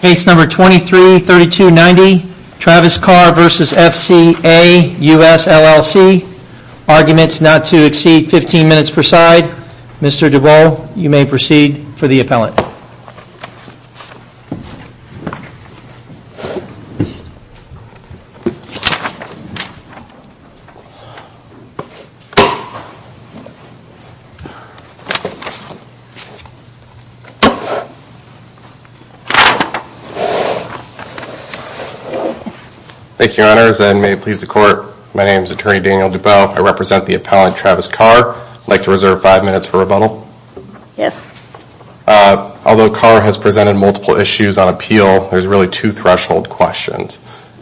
Case number 233290 Travis Carr v. FCA US LLC Arguments not to exceed 15 minutes per side. Mr. Dubow, you may proceed for the appellant. Thank you, Your Honors, and may it please the Court, my name is Attorney Daniel Dubow. I represent the appellant, Travis Carr. I'd like to reserve five minutes for rebuttal. Yes. Although Carr has presented multiple issues on appeal, there's really two threshold questions.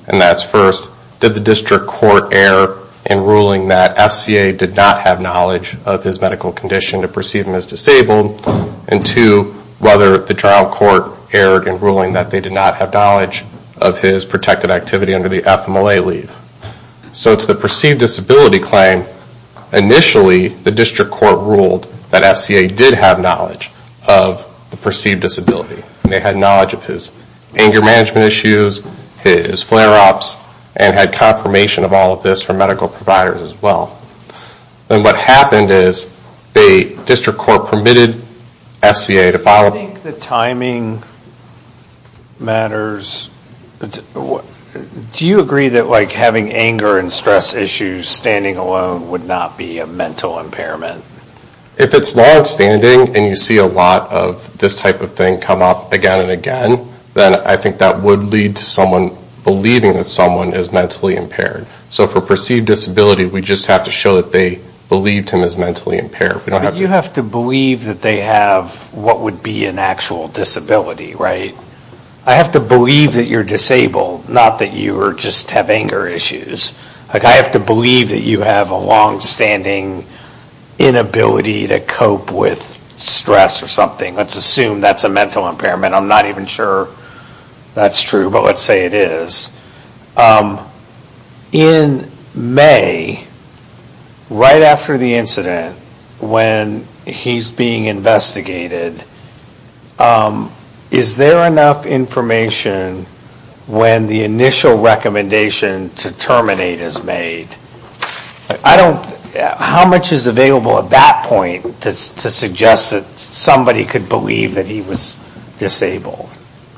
And that's first, did the district court err in ruling that FCA did not have knowledge of his medical condition to perceive him as disabled? And two, whether the trial court erred in ruling that they did not have knowledge of his protected activity under the FMLA leave. So to the perceived disability claim, initially the district court ruled that FCA did have knowledge of the perceived disability. They had knowledge of his anger management issues, his flare-ups, and had confirmation of all of this from medical providers as well. And what happened is the district court permitted FCA to file... I think the timing matters. Do you agree that having anger and stress issues standing alone would not be a mental impairment? If it's not standing, and you see a lot of this type of thing come up again and again, then I think that would lead to someone believing that someone is mentally impaired. So for perceived disability, we just have to show that they believed him as mentally impaired. But you have to believe that they have what would be an actual disability, right? I have to believe that you're disabled, not that you just have anger issues. I have to believe that you have a long-standing inability to cope with stress or something. Let's assume that's a mental impairment. I'm not even sure that's true, but let's say it is. In May, right after the incident, when he's being investigated, is there enough information when the initial recommendation to terminate is made? How much is available at that point to suggest that somebody could believe that he was disabled?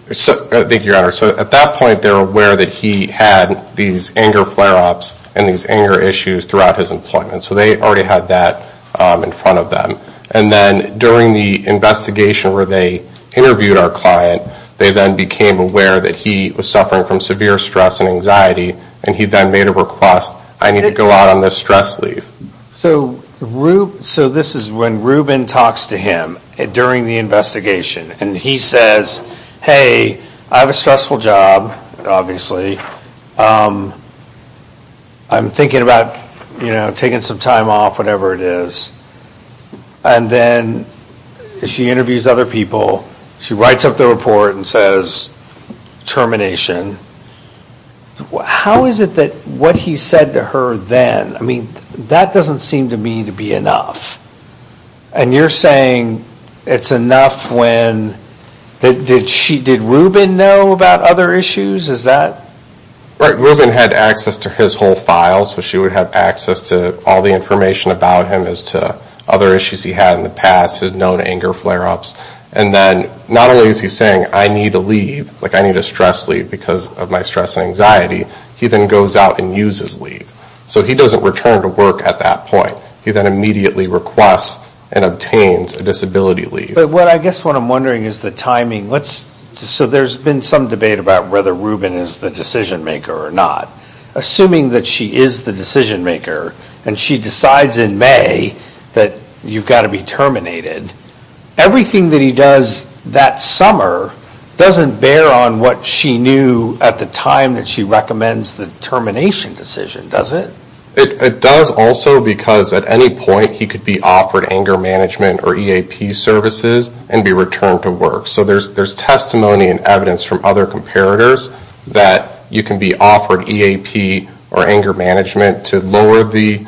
At that point, they're aware that he had these anger flare-ups and these anger issues throughout his employment. So they already had that in front of them. And then during the investigation where they interviewed our client, they then became aware that he was suffering from severe stress and anxiety, and he then made a request, I need to go out on this stress leave. So this is when Ruben talks to him during the investigation. And he says, hey, I have a stressful job, obviously. I'm thinking about taking some time off, whatever it is. And then she interviews other people. She writes up the report and says, termination. How is it that what he said to her then, I mean, that doesn't seem to me to be enough. And you're saying it's enough when, did Ruben know about other issues? Is that? Right, Ruben had access to his whole file. So she would have access to all the information about him as to other issues he had in the past, his known anger flare-ups. And then not only is he saying, I need to leave, like I need a stress leave because of my stress and anxiety, he then goes out and uses leave. So he doesn't return to work at that point. He then immediately requests and obtains a disability leave. But what I guess what I'm wondering is the timing. So there's been some debate about whether Ruben is the decision-maker or not. Assuming that she is the decision-maker and she decides in May that you've got to be terminated, everything that he does that summer doesn't bear on what she knew at the time that she recommends the termination decision, does it? It does also because at any point he could be offered anger management or EAP services and be returned to work. So there's testimony and evidence from other comparators that you can be offered EAP or anger management to lower the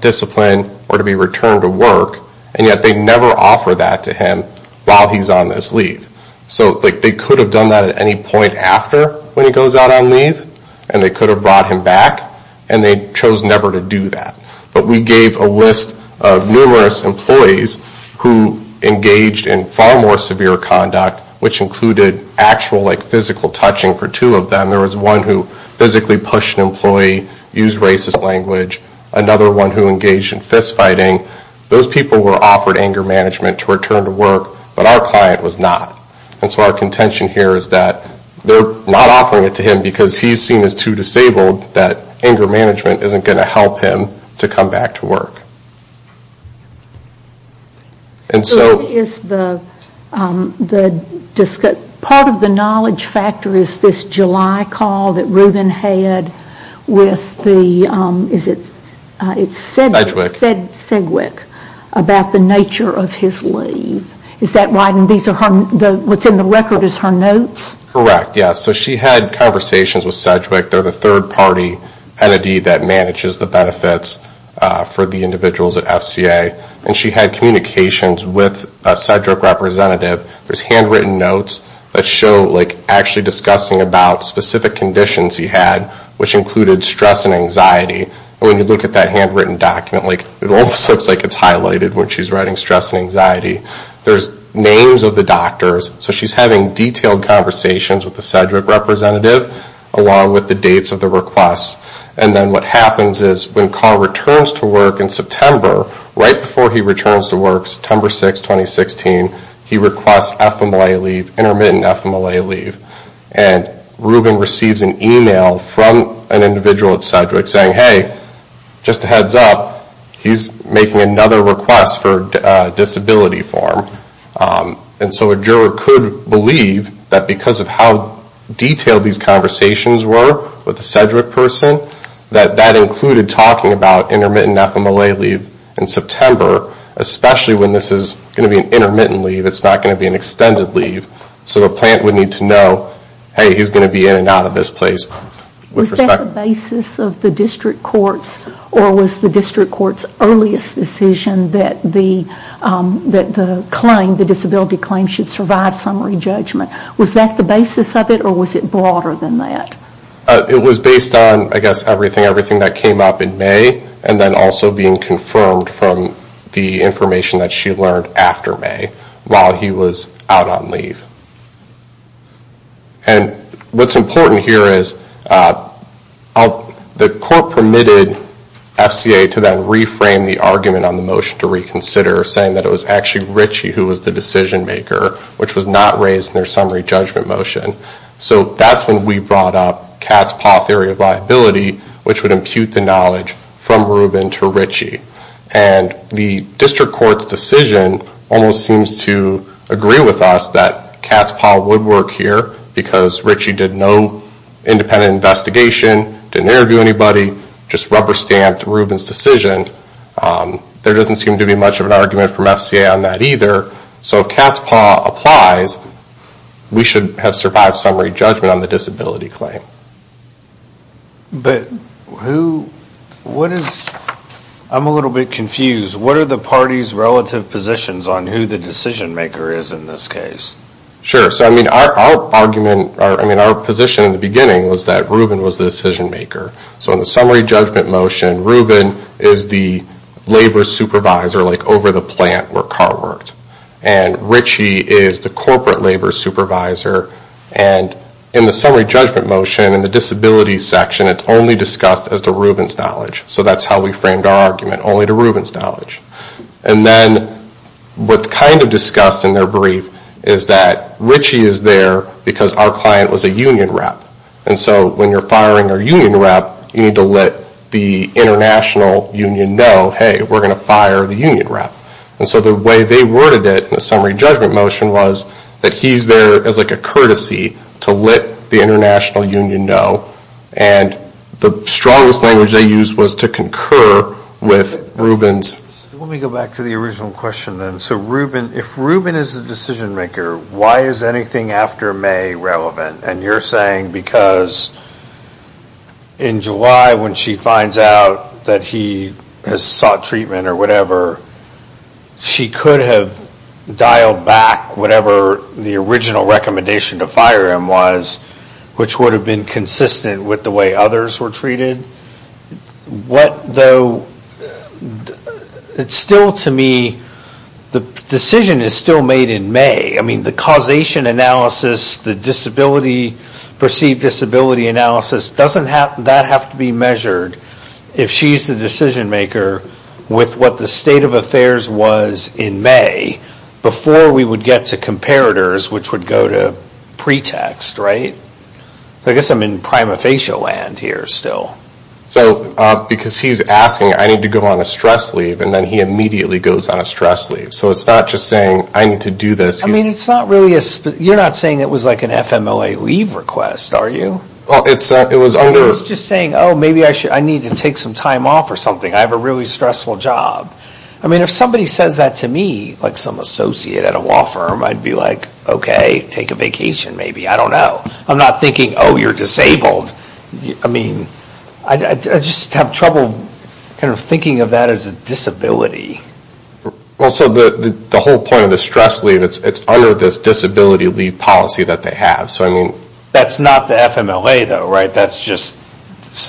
discipline or to be returned to work. And yet they never offer that to him while he's on this leave. So they could have done that at any point after when he goes out on leave. And they could have brought him back. And they chose never to do that. But we gave a list of numerous employees who engaged in far more severe conduct, which included actual physical touching for two of them. There was one who physically pushed an employee, used racist language. Another one who engaged in fist-fighting. Those people were offered anger management to return to work, but our client was not. And so our contention here is that they're not offering it to him because he's seen as too disabled that anger management isn't going to help him to come back to work. Part of the knowledge factor is this July call that Ruben had with Sedgwick about the nature of his leave. Is that right? And what's in the record is her notes? Correct, yes. So she had conversations with Sedgwick. They're the third-party entity that manages the benefits for the individuals at FCA. And she had communications with a Sedgwick representative. There's handwritten notes that show, like, actually discussing about specific conditions he had, which included stress and anxiety. And when you look at that handwritten document, like, it almost looks like it's highlighted when she's writing stress and anxiety. There's names of the doctors. So she's having detailed conversations with the Sedgwick representative along with the dates of the requests. And then what happens is when Carr returns to work in September, right before he returns to work, September 6, 2016, he requests FMLA leave, intermittent FMLA leave. And Ruben receives an email from an individual at Sedgwick saying, hey, just a heads up, he's making another request for a disability form. And so a juror could believe that because of how detailed these conversations were with the Sedgwick person, that that included talking about intermittent FMLA leave in September, especially when this is going to be an intermittent leave, it's not going to be an extended leave. So the plant would need to know, hey, he's going to be in and out of this place. Was that the basis of the district court's or was the district court's earliest decision that the claim, the disability claim should survive summary judgment? Was that the basis of it or was it broader than that? It was based on, I guess, everything that came up in May and then also being confirmed from the information that she learned after May while he was out on leave. And what's important here is the court permitted FCA to then reframe the argument on the motion to reconsider, saying that it was actually Ritchie who was the decision maker, which was not raised in their summary judgment motion. So that's when we brought up Katz-Poth theory of liability, which would impute the knowledge from Ruben to Ritchie. And the district court's decision almost seems to agree with us that Katz-Poth would work here because Ritchie did no independent investigation, didn't interview anybody, just rubber stamped Ruben's decision. There doesn't seem to be much of an argument from FCA on that either. So if Katz-Poth applies, we should have survived summary judgment on the disability claim. But who, what is, I'm a little bit confused. What are the party's relative positions on who the decision maker is in this case? Sure, so I mean our argument, I mean our position in the beginning was that Ruben was the decision maker. So in the summary judgment motion, Ruben is the labor supervisor, like over the plant where Karl worked. And Ritchie is the corporate labor supervisor. And in the summary judgment motion in the disability section, it's only discussed as to Ruben's knowledge. So that's how we framed our argument, only to Ruben's knowledge. And then what's kind of discussed in their brief is that Ritchie is there because our client was a union rep. And so when you're firing a union rep, you need to let the international union know, hey, we're going to fire the union rep. And so the way they worded it in the summary judgment motion was that he's there as like a courtesy to let the international union know. And the strongest language they used was to concur with Ruben's. Let me go back to the original question then. So Ruben, if Ruben is the decision maker, why is anything after May relevant? And you're saying because in July when she finds out that he has sought treatment or whatever, she could have dialed back whatever the original recommendation to fire him was, which would have been consistent with the way others were treated. What though, it's still to me, the decision is still made in May. I mean, the causation analysis, the disability, perceived disability analysis, doesn't that have to be measured if she's the decision maker with what the state of affairs was in May before we would get to comparators, which would go to pretext, right? I guess I'm in prima facie land here still. So because he's asking, I need to go on a stress leave, and then he immediately goes on a stress leave. So it's not just saying, I need to do this. I mean, you're not saying it was like an FMLA leave request, are you? I was just saying, oh, maybe I need to take some time off or something. I have a really stressful job. I mean, if somebody says that to me, like some associate at a law firm, I'd be like, okay, take a vacation maybe, I don't know. I'm not thinking, oh, you're disabled. I mean, I just have trouble kind of thinking of that as a disability. Well, so the whole point of the stress leave, it's under this disability leave policy that they have. That's not the FMLA though, right? That's just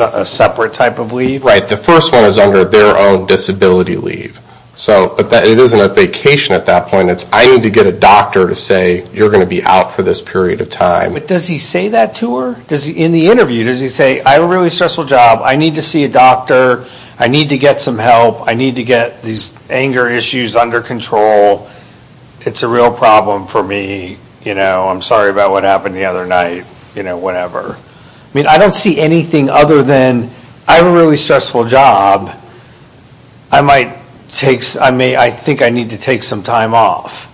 a separate type of leave? Right. The first one is under their own disability leave. But it isn't a vacation at that point. It's I need to get a doctor to say you're going to be out for this period of time. But does he say that to her? In the interview, does he say, I have a really stressful job. I need to see a doctor. I need to get some help. I need to get these anger issues under control. It's a real problem for me. You know, I'm sorry about what happened the other night. You know, whatever. I mean, I don't see anything other than I have a really stressful job. I think I need to take some time off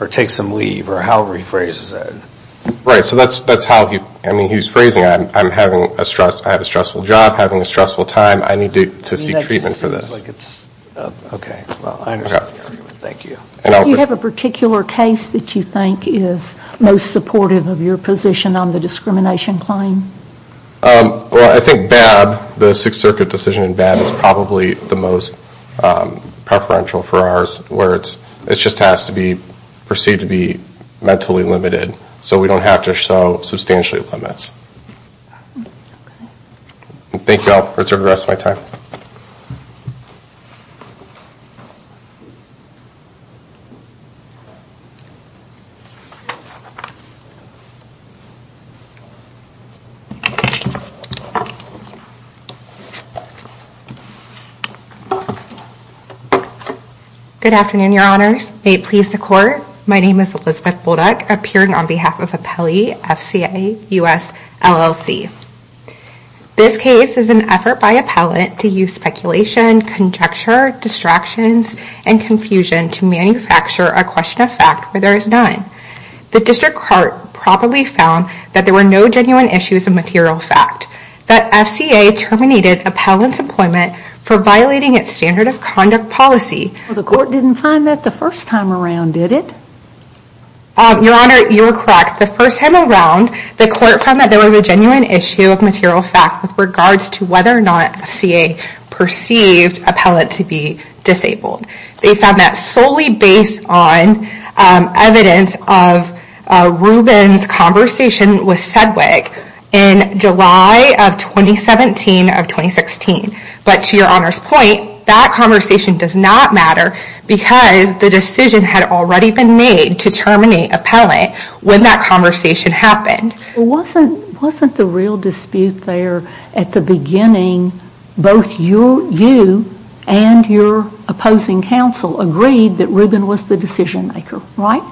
or take some leave or however he phrases it. Right. So that's how he's phrasing it. I have a stressful job. I'm having a stressful time. I need to see treatment for this. Well, I understand the argument. Thank you. Do you have a particular case that you think is most supportive of your position on the discrimination claim? Well, I think BAB, the Sixth Circuit decision in BAB, is probably the most preferential for ours where it just has to be perceived to be mentally limited. So we don't have to show substantial limits. Okay. Thank you. I'll reserve the rest of my time. Good afternoon, Your Honors. May it please the Court. My name is Elizabeth Bullduck, appearing on behalf of Appellee, FCA, US, LLC. This case is an effort by appellant to use speculation, conjecture, distractions, and confusion to manufacture a question of fact where there is none. The District Court probably found that there were no genuine issues of material fact, that FCA terminated appellant's employment for violating its standard of conduct policy. The Court didn't find that the first time around, did it? Your Honor, you are correct. The first time around, the Court found that there was a genuine issue of material fact with regards to whether or not FCA perceived appellant to be disabled. They found that solely based on evidence of Ruben's conversation with Sedgwick in July of 2017 or 2016. But to Your Honor's point, that conversation does not matter because the decision had already been made to terminate appellant when that conversation happened. Wasn't the real dispute there at the beginning, both you and your opposing counsel agreed that Ruben was the decision maker, right?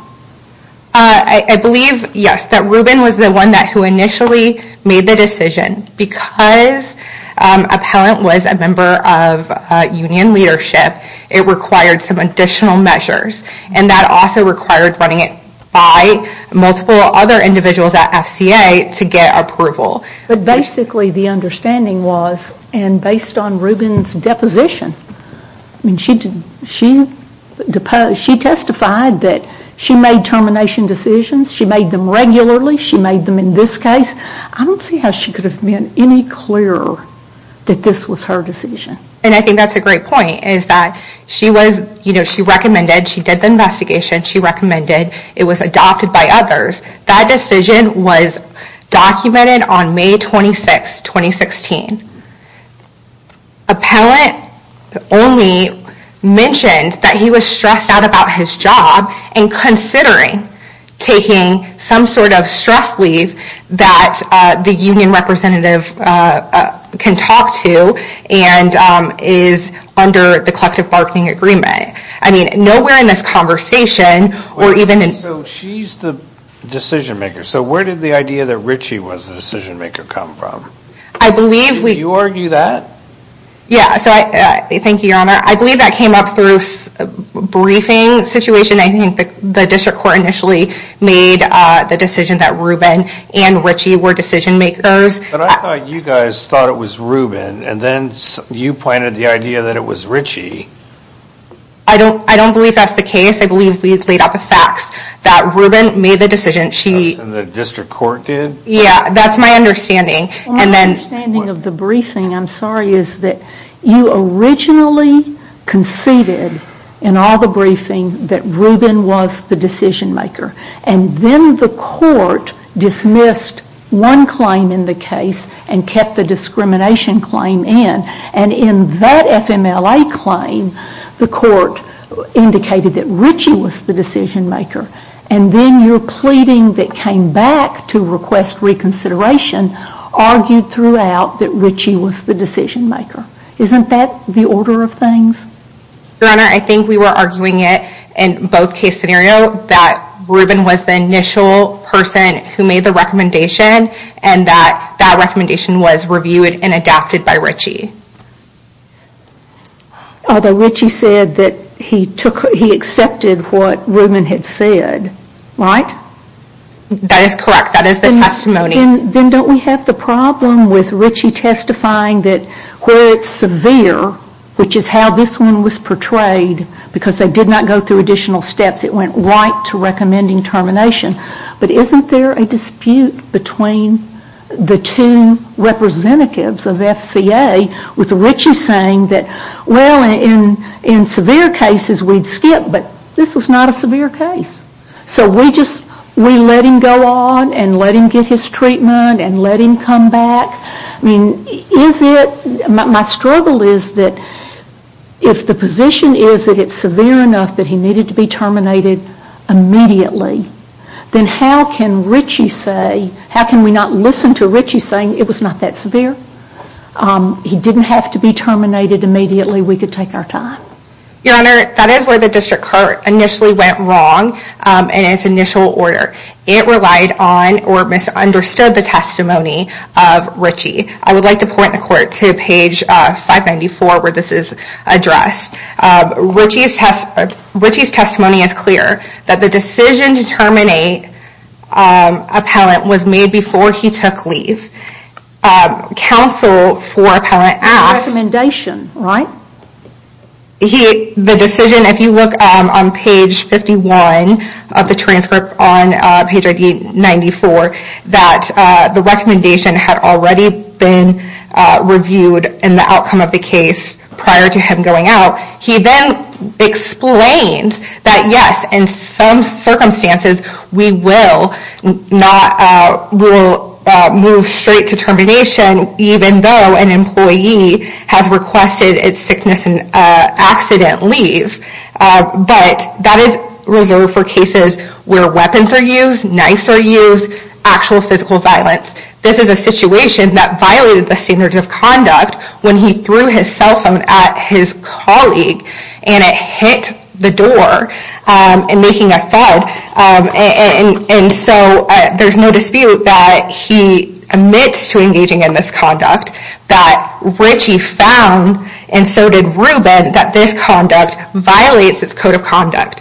I believe, yes, that Ruben was the one who initially made the decision because appellant was a member of union leadership, it required some additional measures and that also required running it by multiple other individuals at FCA to get approval. But basically the understanding was, and based on Ruben's deposition, she testified that she made termination decisions, she made them regularly, she made them in this case, I don't see how she could have been any clearer that this was her decision. And I think that's a great point, is that she recommended, she did the investigation, she recommended it was adopted by others. That decision was documented on May 26, 2016. Appellant only mentioned that he was stressed out about his job and considering taking some sort of stress leave that the union representative can talk to and is under the collective bargaining agreement. I mean, nowhere in this conversation, or even in... So she's the decision maker, so where did the idea that Richie was the decision maker come from? I believe... Did you argue that? Yeah, thank you, your honor. I believe that came up through a briefing situation. I think the district court initially made the decision that Ruben and Richie were decision makers. But I thought you guys thought it was Ruben, and then you planted the idea that it was Richie. I don't believe that's the case. I believe we've laid out the facts that Ruben made the decision, she... And the district court did? Yeah, that's my understanding. My understanding of the briefing, I'm sorry, is that you originally conceded in all the briefings that Ruben was the decision maker. And then the court dismissed one claim in the case and kept the discrimination claim in. And in that FMLA claim, the court indicated that Richie was the decision maker. And then your pleading that came back to request reconsideration argued throughout that Richie was the decision maker. Isn't that the order of things? Your honor, I think we were arguing it in both case scenario, that Ruben was the initial person who made the recommendation, and that that recommendation was reviewed and adapted by Richie. Although Richie said that he accepted what Ruben had said, right? That is correct, that is the testimony. Then don't we have the problem with Richie testifying that where it's severe, which is how this one was portrayed, because they did not go through additional steps, it went right to recommending termination. But isn't there a dispute between the two representatives of FCA, with Richie saying that, well, in severe cases we'd skip, but this was not a severe case. So we just, we let him go on and let him get his treatment and let him come back. I mean, is it, my struggle is that if the position is that it's severe enough that he needed to be terminated immediately, then how can Richie say, how can we not listen to Richie saying it was not that severe? He didn't have to be terminated immediately, we could take our time. Your honor, that is where the district court initially went wrong in its initial order. It relied on or misunderstood the testimony of Richie. I would like to point the court to page 594 where this is addressed. Richie's testimony is clear. That the decision to terminate Appellant was made before he took leave. Counsel for Appellant asked... The recommendation, right? The decision, if you look on page 51 of the transcript on page ID 94, that the recommendation had already been reviewed in the outcome of the case prior to him going out. He then explains that yes, in some circumstances we will move straight to termination even though an employee has requested its sickness and accident leave. But that is reserved for cases where weapons are used, knifes are used, actual physical violence. This is a situation that violated the standards of conduct when he threw his cell phone at his colleague and it hit the door and making a thud. And so there's no dispute that he admits to engaging in this conduct. That Richie found, and so did Ruben, that this conduct violates its code of conduct.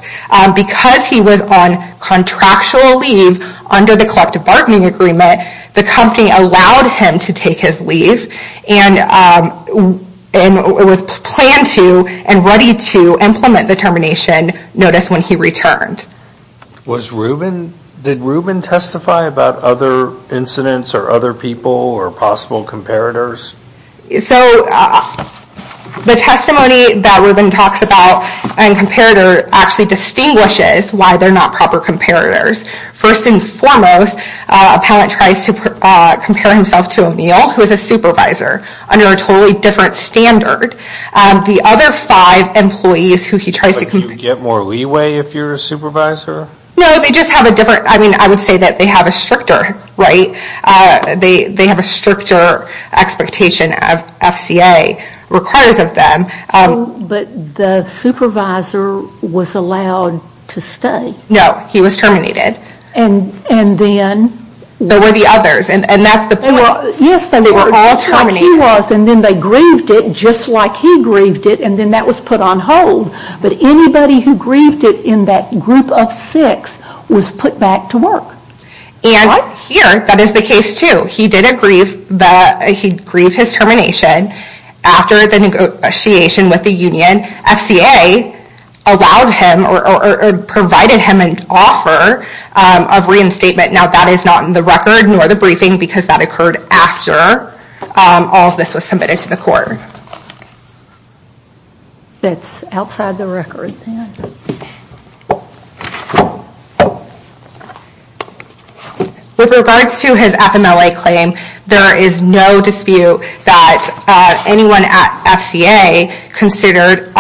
Because he was on contractual leave under the collective bargaining agreement, the company allowed him to take his leave. And it was planned to and ready to implement the termination notice when he returned. Did Ruben testify about other incidents or other people or possible comparators? So the testimony that Ruben talks about and comparator actually distinguishes why they're not proper comparators. First and foremost, a pallet tries to compare himself to Emil, who is a supervisor, under a totally different standard. The other five employees who he tries to compare... But do you get more leeway if you're a supervisor? No, they just have a different, I mean, I would say that they have a stricter, right? They have a stricter expectation of FCA requires of them. But the supervisor was allowed to stay. No, he was terminated. And then? There were the others, and that's the point. They were all terminated. And then they grieved it just like he grieved it, and then that was put on hold. But anybody who grieved it in that group of six was put back to work. And here, that is the case too. He did grieve his termination after the negotiation with the union. And then FCA allowed him or provided him an offer of reinstatement. Now, that is not in the record nor the briefing because that occurred after all of this was submitted to the court. That's outside the record. With regards to his FMLA claim, there is no dispute that anyone at FCA considered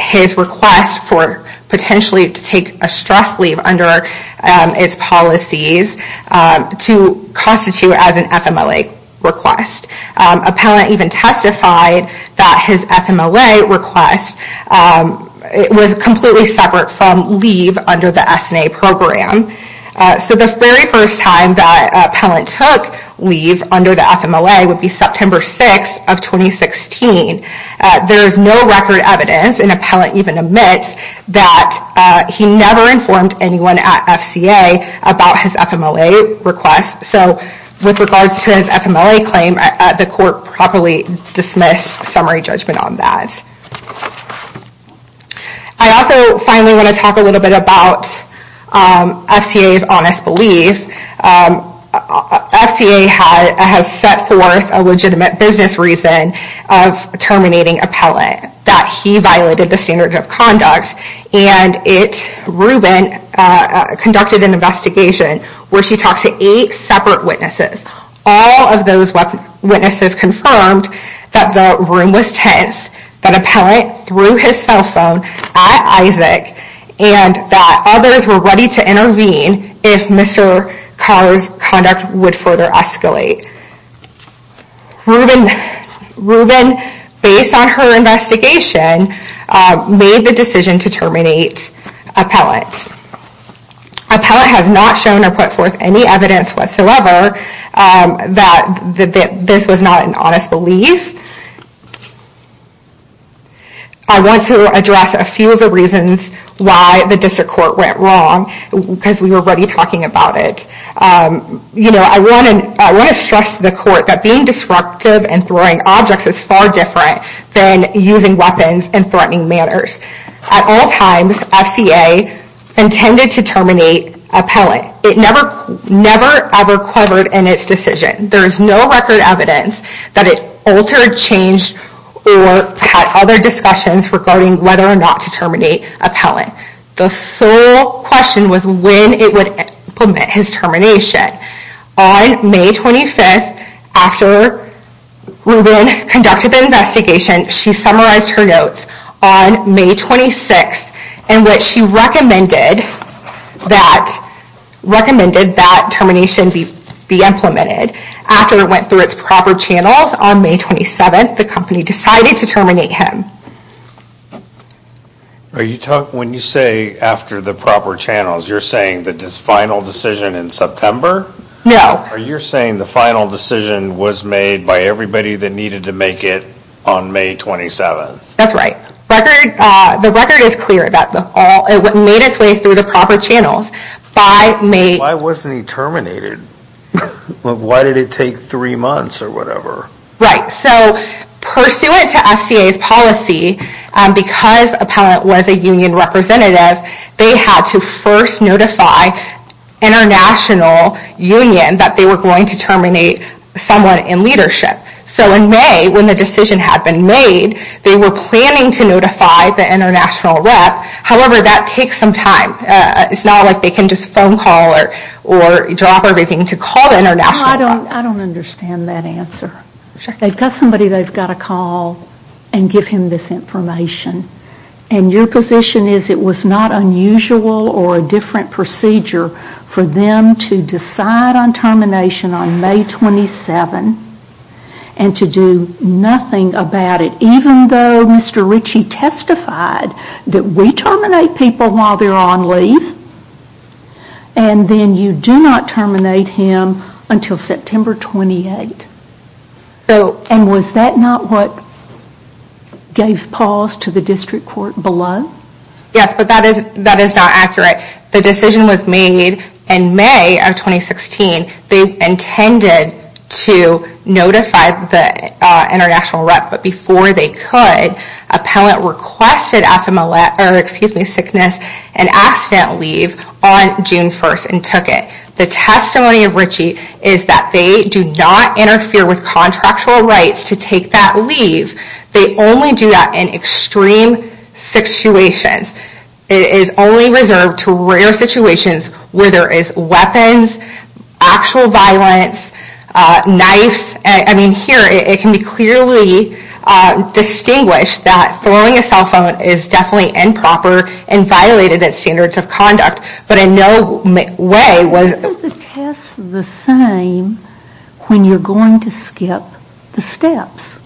his request for potentially to take a stress leave under its policies to constitute as an FMLA request. Appellant even testified that his FMLA request was completely separate from leave under the SNA program. So the very first time that Appellant took leave under the FMLA would be September 6th of 2016. There is no record evidence, and Appellant even admits, that he never informed anyone at FCA about his FMLA request. So with regards to his FMLA claim, the court properly dismissed summary judgment on that. I also finally want to talk a little bit about FCA's honest belief. FCA has set forth a legitimate business reason of terminating Appellant. That he violated the standard of conduct, and Rubin conducted an investigation where she talked to 8 separate witnesses. All of those witnesses confirmed that the room was tense, that Appellant threw his cell phone at Isaac, and that others were ready to intervene if Mr. Carr's conduct would further escalate. Rubin, based on her investigation, made the decision to terminate Appellant. Appellant has not shown or put forth any evidence whatsoever that this was not an honest belief. I want to address a few of the reasons why the district court went wrong, because we were already talking about it. I want to stress to the court that being disruptive and throwing objects is far different than using weapons and threatening manners. At all times, FCA intended to terminate Appellant. It never, ever quavered in its decision. There is no record evidence that it altered, changed, or had other discussions regarding whether or not to terminate Appellant. The sole question was when it would implement his termination. On May 25th, after Rubin conducted the investigation, she summarized her notes on May 26th, in which she recommended that termination be implemented. After it went through its proper channels on May 27th, the company decided to terminate him. When you say after the proper channels, you're saying the final decision in September? No. You're saying the final decision was made by everybody that needed to make it on May 27th? That's right. The record is clear that it made its way through the proper channels. Why wasn't he terminated? Why did it take three months or whatever? Pursuant to FCA's policy, because Appellant was a union representative, they had to first notify the international union that they were going to terminate someone in leadership. In May, when the decision had been made, they were planning to notify the international rep. However, that takes some time. It's not like they can just phone call or drop everything to call the international rep. I don't understand that answer. They've got somebody they've got to call and give him this information. Your position is it was not unusual or a different procedure for them to decide on termination on May 27th and to do nothing about it, even though Mr. Ritchie testified that we terminate people while they're on leave, and then you do not terminate him until September 28th. Was that not what gave pause to the district court below? Yes, but that is not accurate. The decision was made in May of 2016. They intended to notify the international rep, but before they could, Appellant requested sickness and accident leave on June 1st and took it. The testimony of Ritchie is that they do not interfere with contractual rights to take that leave. They only do that in extreme situations. It is only reserved to rare situations where there is weapons, actual violence, knives. I mean, here it can be clearly distinguished that throwing a cell phone is definitely improper and violated its standards of conduct, but in no way was... the same when you're going to skip the steps.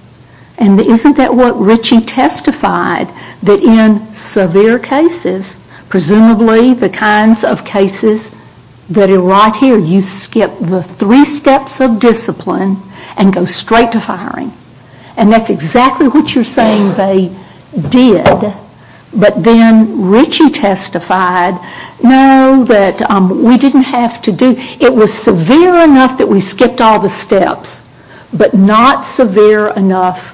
And isn't that what Ritchie testified? That in severe cases, presumably the kinds of cases that are right here, you skip the three steps of discipline and go straight to firing. And that's exactly what you're saying they did. But then Ritchie testified, no, that we didn't have to do... it was severe enough that we skipped all the steps, but not severe enough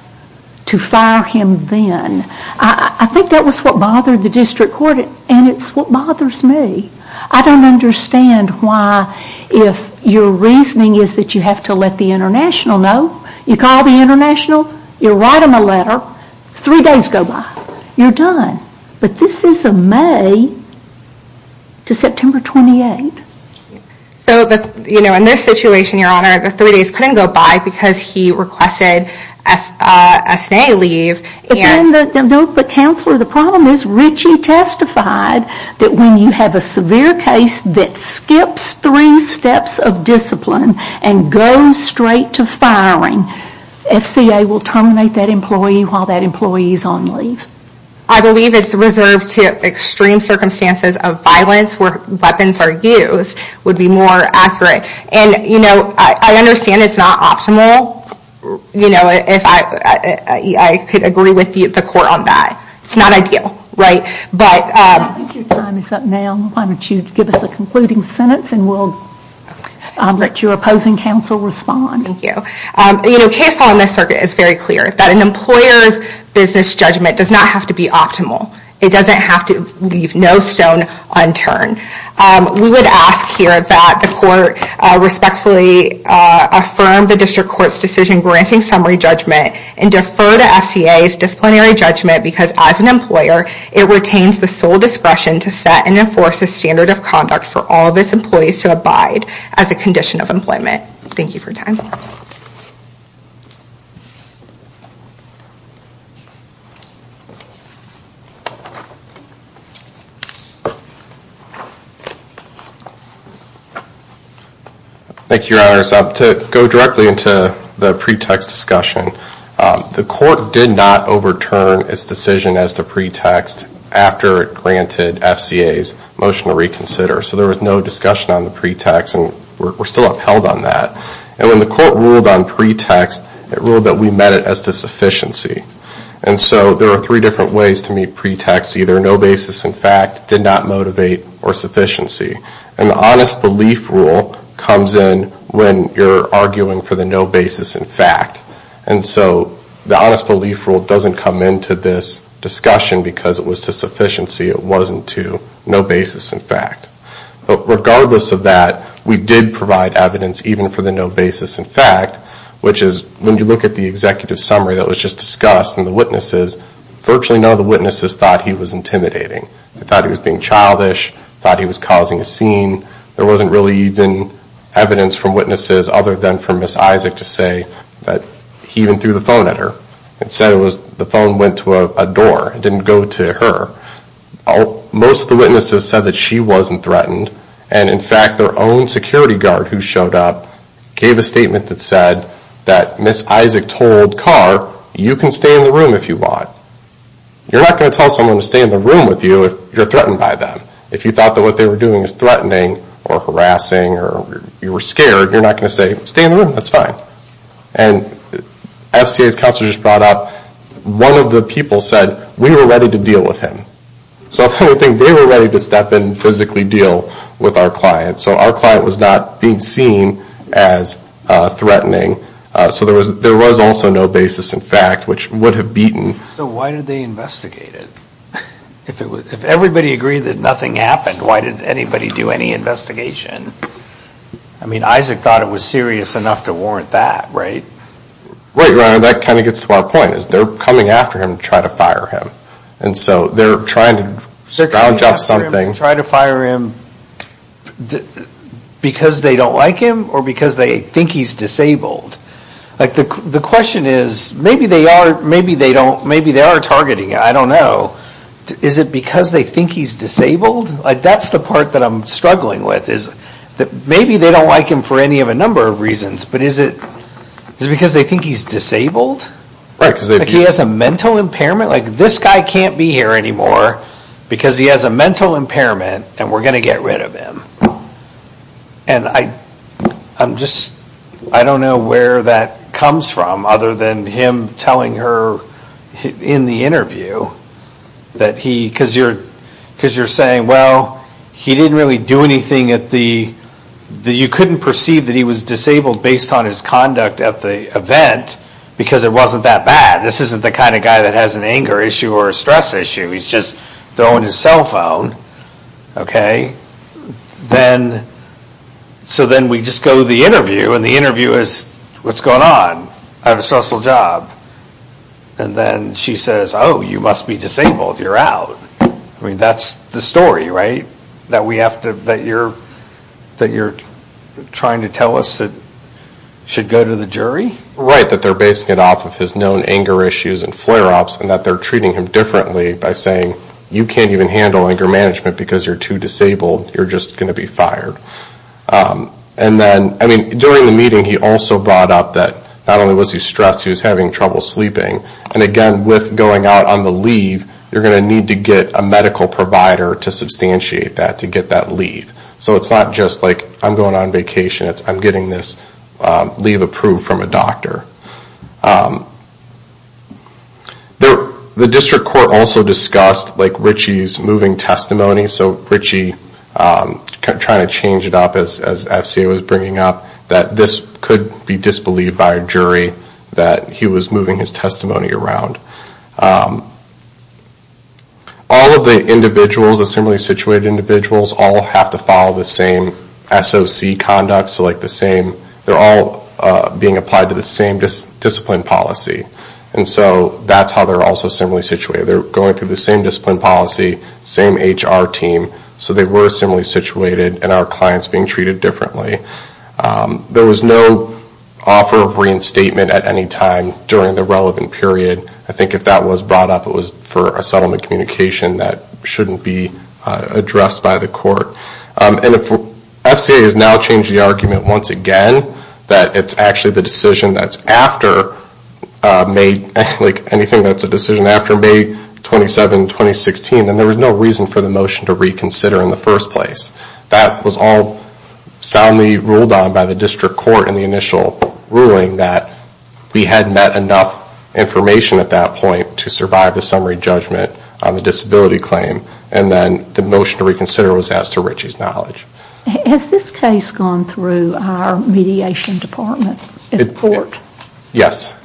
to fire him then. I think that was what bothered the district court and it's what bothers me. I don't understand why if your reasoning is that you have to let the international know. You call the international, you write them a letter, three days go by, you're done. But this is a May to September 28. So in this situation, your honor, the three days couldn't go by because he requested a stay leave. But counselor, the problem is Ritchie testified that when you have a severe case that skips three steps of discipline and goes straight to firing, FCA will terminate that employee while that employee is on leave. I believe it's reserved to extreme circumstances of violence where weapons are used would be more accurate. I understand it's not optimal. I could agree with the court on that. It's not ideal. I think your time is up now. Why don't you give us a concluding sentence and we'll let your opposing counsel respond. Thank you. Case law in this circuit is very clear that an employer's business judgment does not have to be optimal. It doesn't have to leave no stone unturned. We would ask here that the court respectfully affirm the district court's decision granting summary judgment and defer to FCA's disciplinary judgment because as an employer, it retains the sole discretion to set and enforce a standard of conduct for all of its employees to abide as a condition of employment. Thank you for your time. Thank you, Your Honors. To go directly into the pretext discussion, the court did not overturn its decision as to pretext after it granted FCA's motion to reconsider. So there was no discussion on the pretext and we're still upheld on that. And when the court ruled on pretext, it ruled that we met it as to sufficiency. And so there are three different ways to meet pretext. Either no basis in fact, did not motivate, or sufficiency. And the honest belief rule comes in when you're arguing for the no basis in fact. And so the honest belief rule doesn't come into this discussion because it was to sufficiency. It wasn't to no basis in fact. But regardless of that, we did provide evidence even for the no basis in fact, which is when you look at the executive summary that was just discussed and the witnesses, virtually none of the witnesses thought he was intimidating. They thought he was being childish, thought he was causing a scene. There wasn't really even evidence from witnesses other than from Ms. Isaac to say that he even threw the phone at her. It said the phone went to a door. It didn't go to her. Most of the witnesses said that she wasn't threatened. And in fact, their own security guard who showed up gave a statement that said that Ms. Isaac told Carr, you can stay in the room if you want. You're not going to tell someone to stay in the room with you if you're threatened by them. If you thought that what they were doing was threatening or harassing or you were scared, you're not going to say, stay in the room, that's fine. And FCA's counselor just brought up, one of the people said, we were ready to deal with him. So they were ready to step in and physically deal with our client. So our client was not being seen as threatening. So there was also no basis in fact which would have beaten. So why did they investigate it? If everybody agreed that nothing happened, why did anybody do any investigation? I mean, Isaac thought it was serious enough to warrant that, right? Right, that kind of gets to our point. They're coming after him to try to fire him. And so they're trying to round up something. They're trying to fire him because they don't like him or because they think he's disabled. The question is, maybe they are targeting him, I don't know. Is it because they think he's disabled? That's the part that I'm struggling with. Maybe they don't like him for any of a number of reasons. But is it because they think he's disabled? Like he has a mental impairment? Like this guy can't be here anymore because he has a mental impairment and we're going to get rid of him. And I'm just, I don't know where that comes from other than him telling her in the interview that he, because you're saying, well, he didn't really do anything at the, you couldn't perceive that he was disabled based on his conduct at the event because it wasn't that bad. This isn't the kind of guy that has an anger issue or a stress issue. He's just throwing his cell phone, okay? Then, so then we just go to the interview and the interview is, what's going on? I have a stressful job. And then she says, oh, you must be disabled, you're out. I mean, that's the story, right? That we have to, that you're, that you're trying to tell us that should go to the jury? Right, that they're basing it off of his known anger issues and flare-ups and that they're treating him differently by saying, you can't even handle anger management because you're too disabled. You're just going to be fired. And then, I mean, during the meeting he also brought up that not only was he stressed, he was having trouble sleeping. And again, with going out on the leave, you're going to need to get a medical provider to substantiate that, to get that leave. So it's not just like, I'm going on vacation. I'm getting this leave approved from a doctor. The district court also discussed, like, Ritchie's moving testimony. So Ritchie, trying to change it up, as FCA was bringing up, that this could be disbelieved by a jury that he was moving his testimony around. All of the individuals, the similarly situated individuals, all have to follow the same SOC conduct. So, like, the same, they're all being applied to the same discipline policy. And so that's how they're also similarly situated. They're going through the same discipline policy, same HR team. So they were similarly situated, and our client's being treated differently. There was no offer of reinstatement at any time during the relevant period. I think if that was brought up, it was for a settlement communication that shouldn't be addressed by the court. And if FCA has now changed the argument once again, that it's actually the decision that's after May, like anything that's a decision after May 27, 2016, then there was no reason for the motion to reconsider in the first place. That was all soundly ruled on by the district court in the initial ruling, that we had met enough information at that point to survive the summary judgment on the disability claim. And then the motion to reconsider was as to Richie's knowledge. Has this case gone through our mediation department at the court? Yes,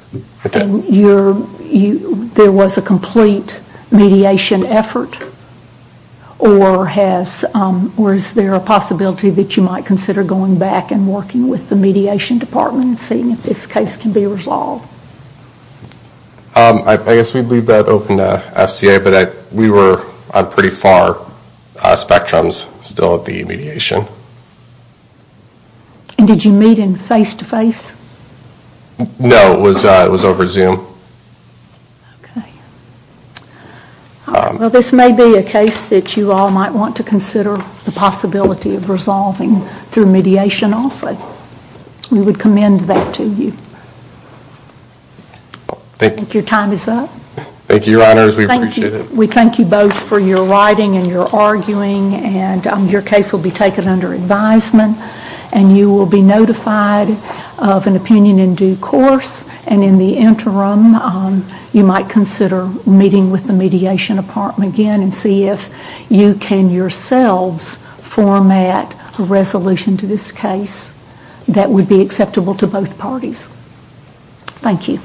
it did. There was a complete mediation effort? Or is there a possibility that you might consider going back and working with the mediation department and seeing if this case can be resolved? I guess we'd leave that open to FCA, but we were on pretty far spectrums still at the mediation. And did you meet in face-to-face? No, it was over Zoom. Okay. Well, this may be a case that you all might want to consider the possibility of resolving through mediation also. We would commend that to you. I think your time is up. Thank you, Your Honors. We appreciate it. We thank you both for your writing and your arguing, and your case will be taken under advisement, and you will be notified of an opinion in due course. And in the interim, you might consider meeting with the mediation department again and see if you can yourselves format a resolution to this case that would be acceptable to both parties. Thank you.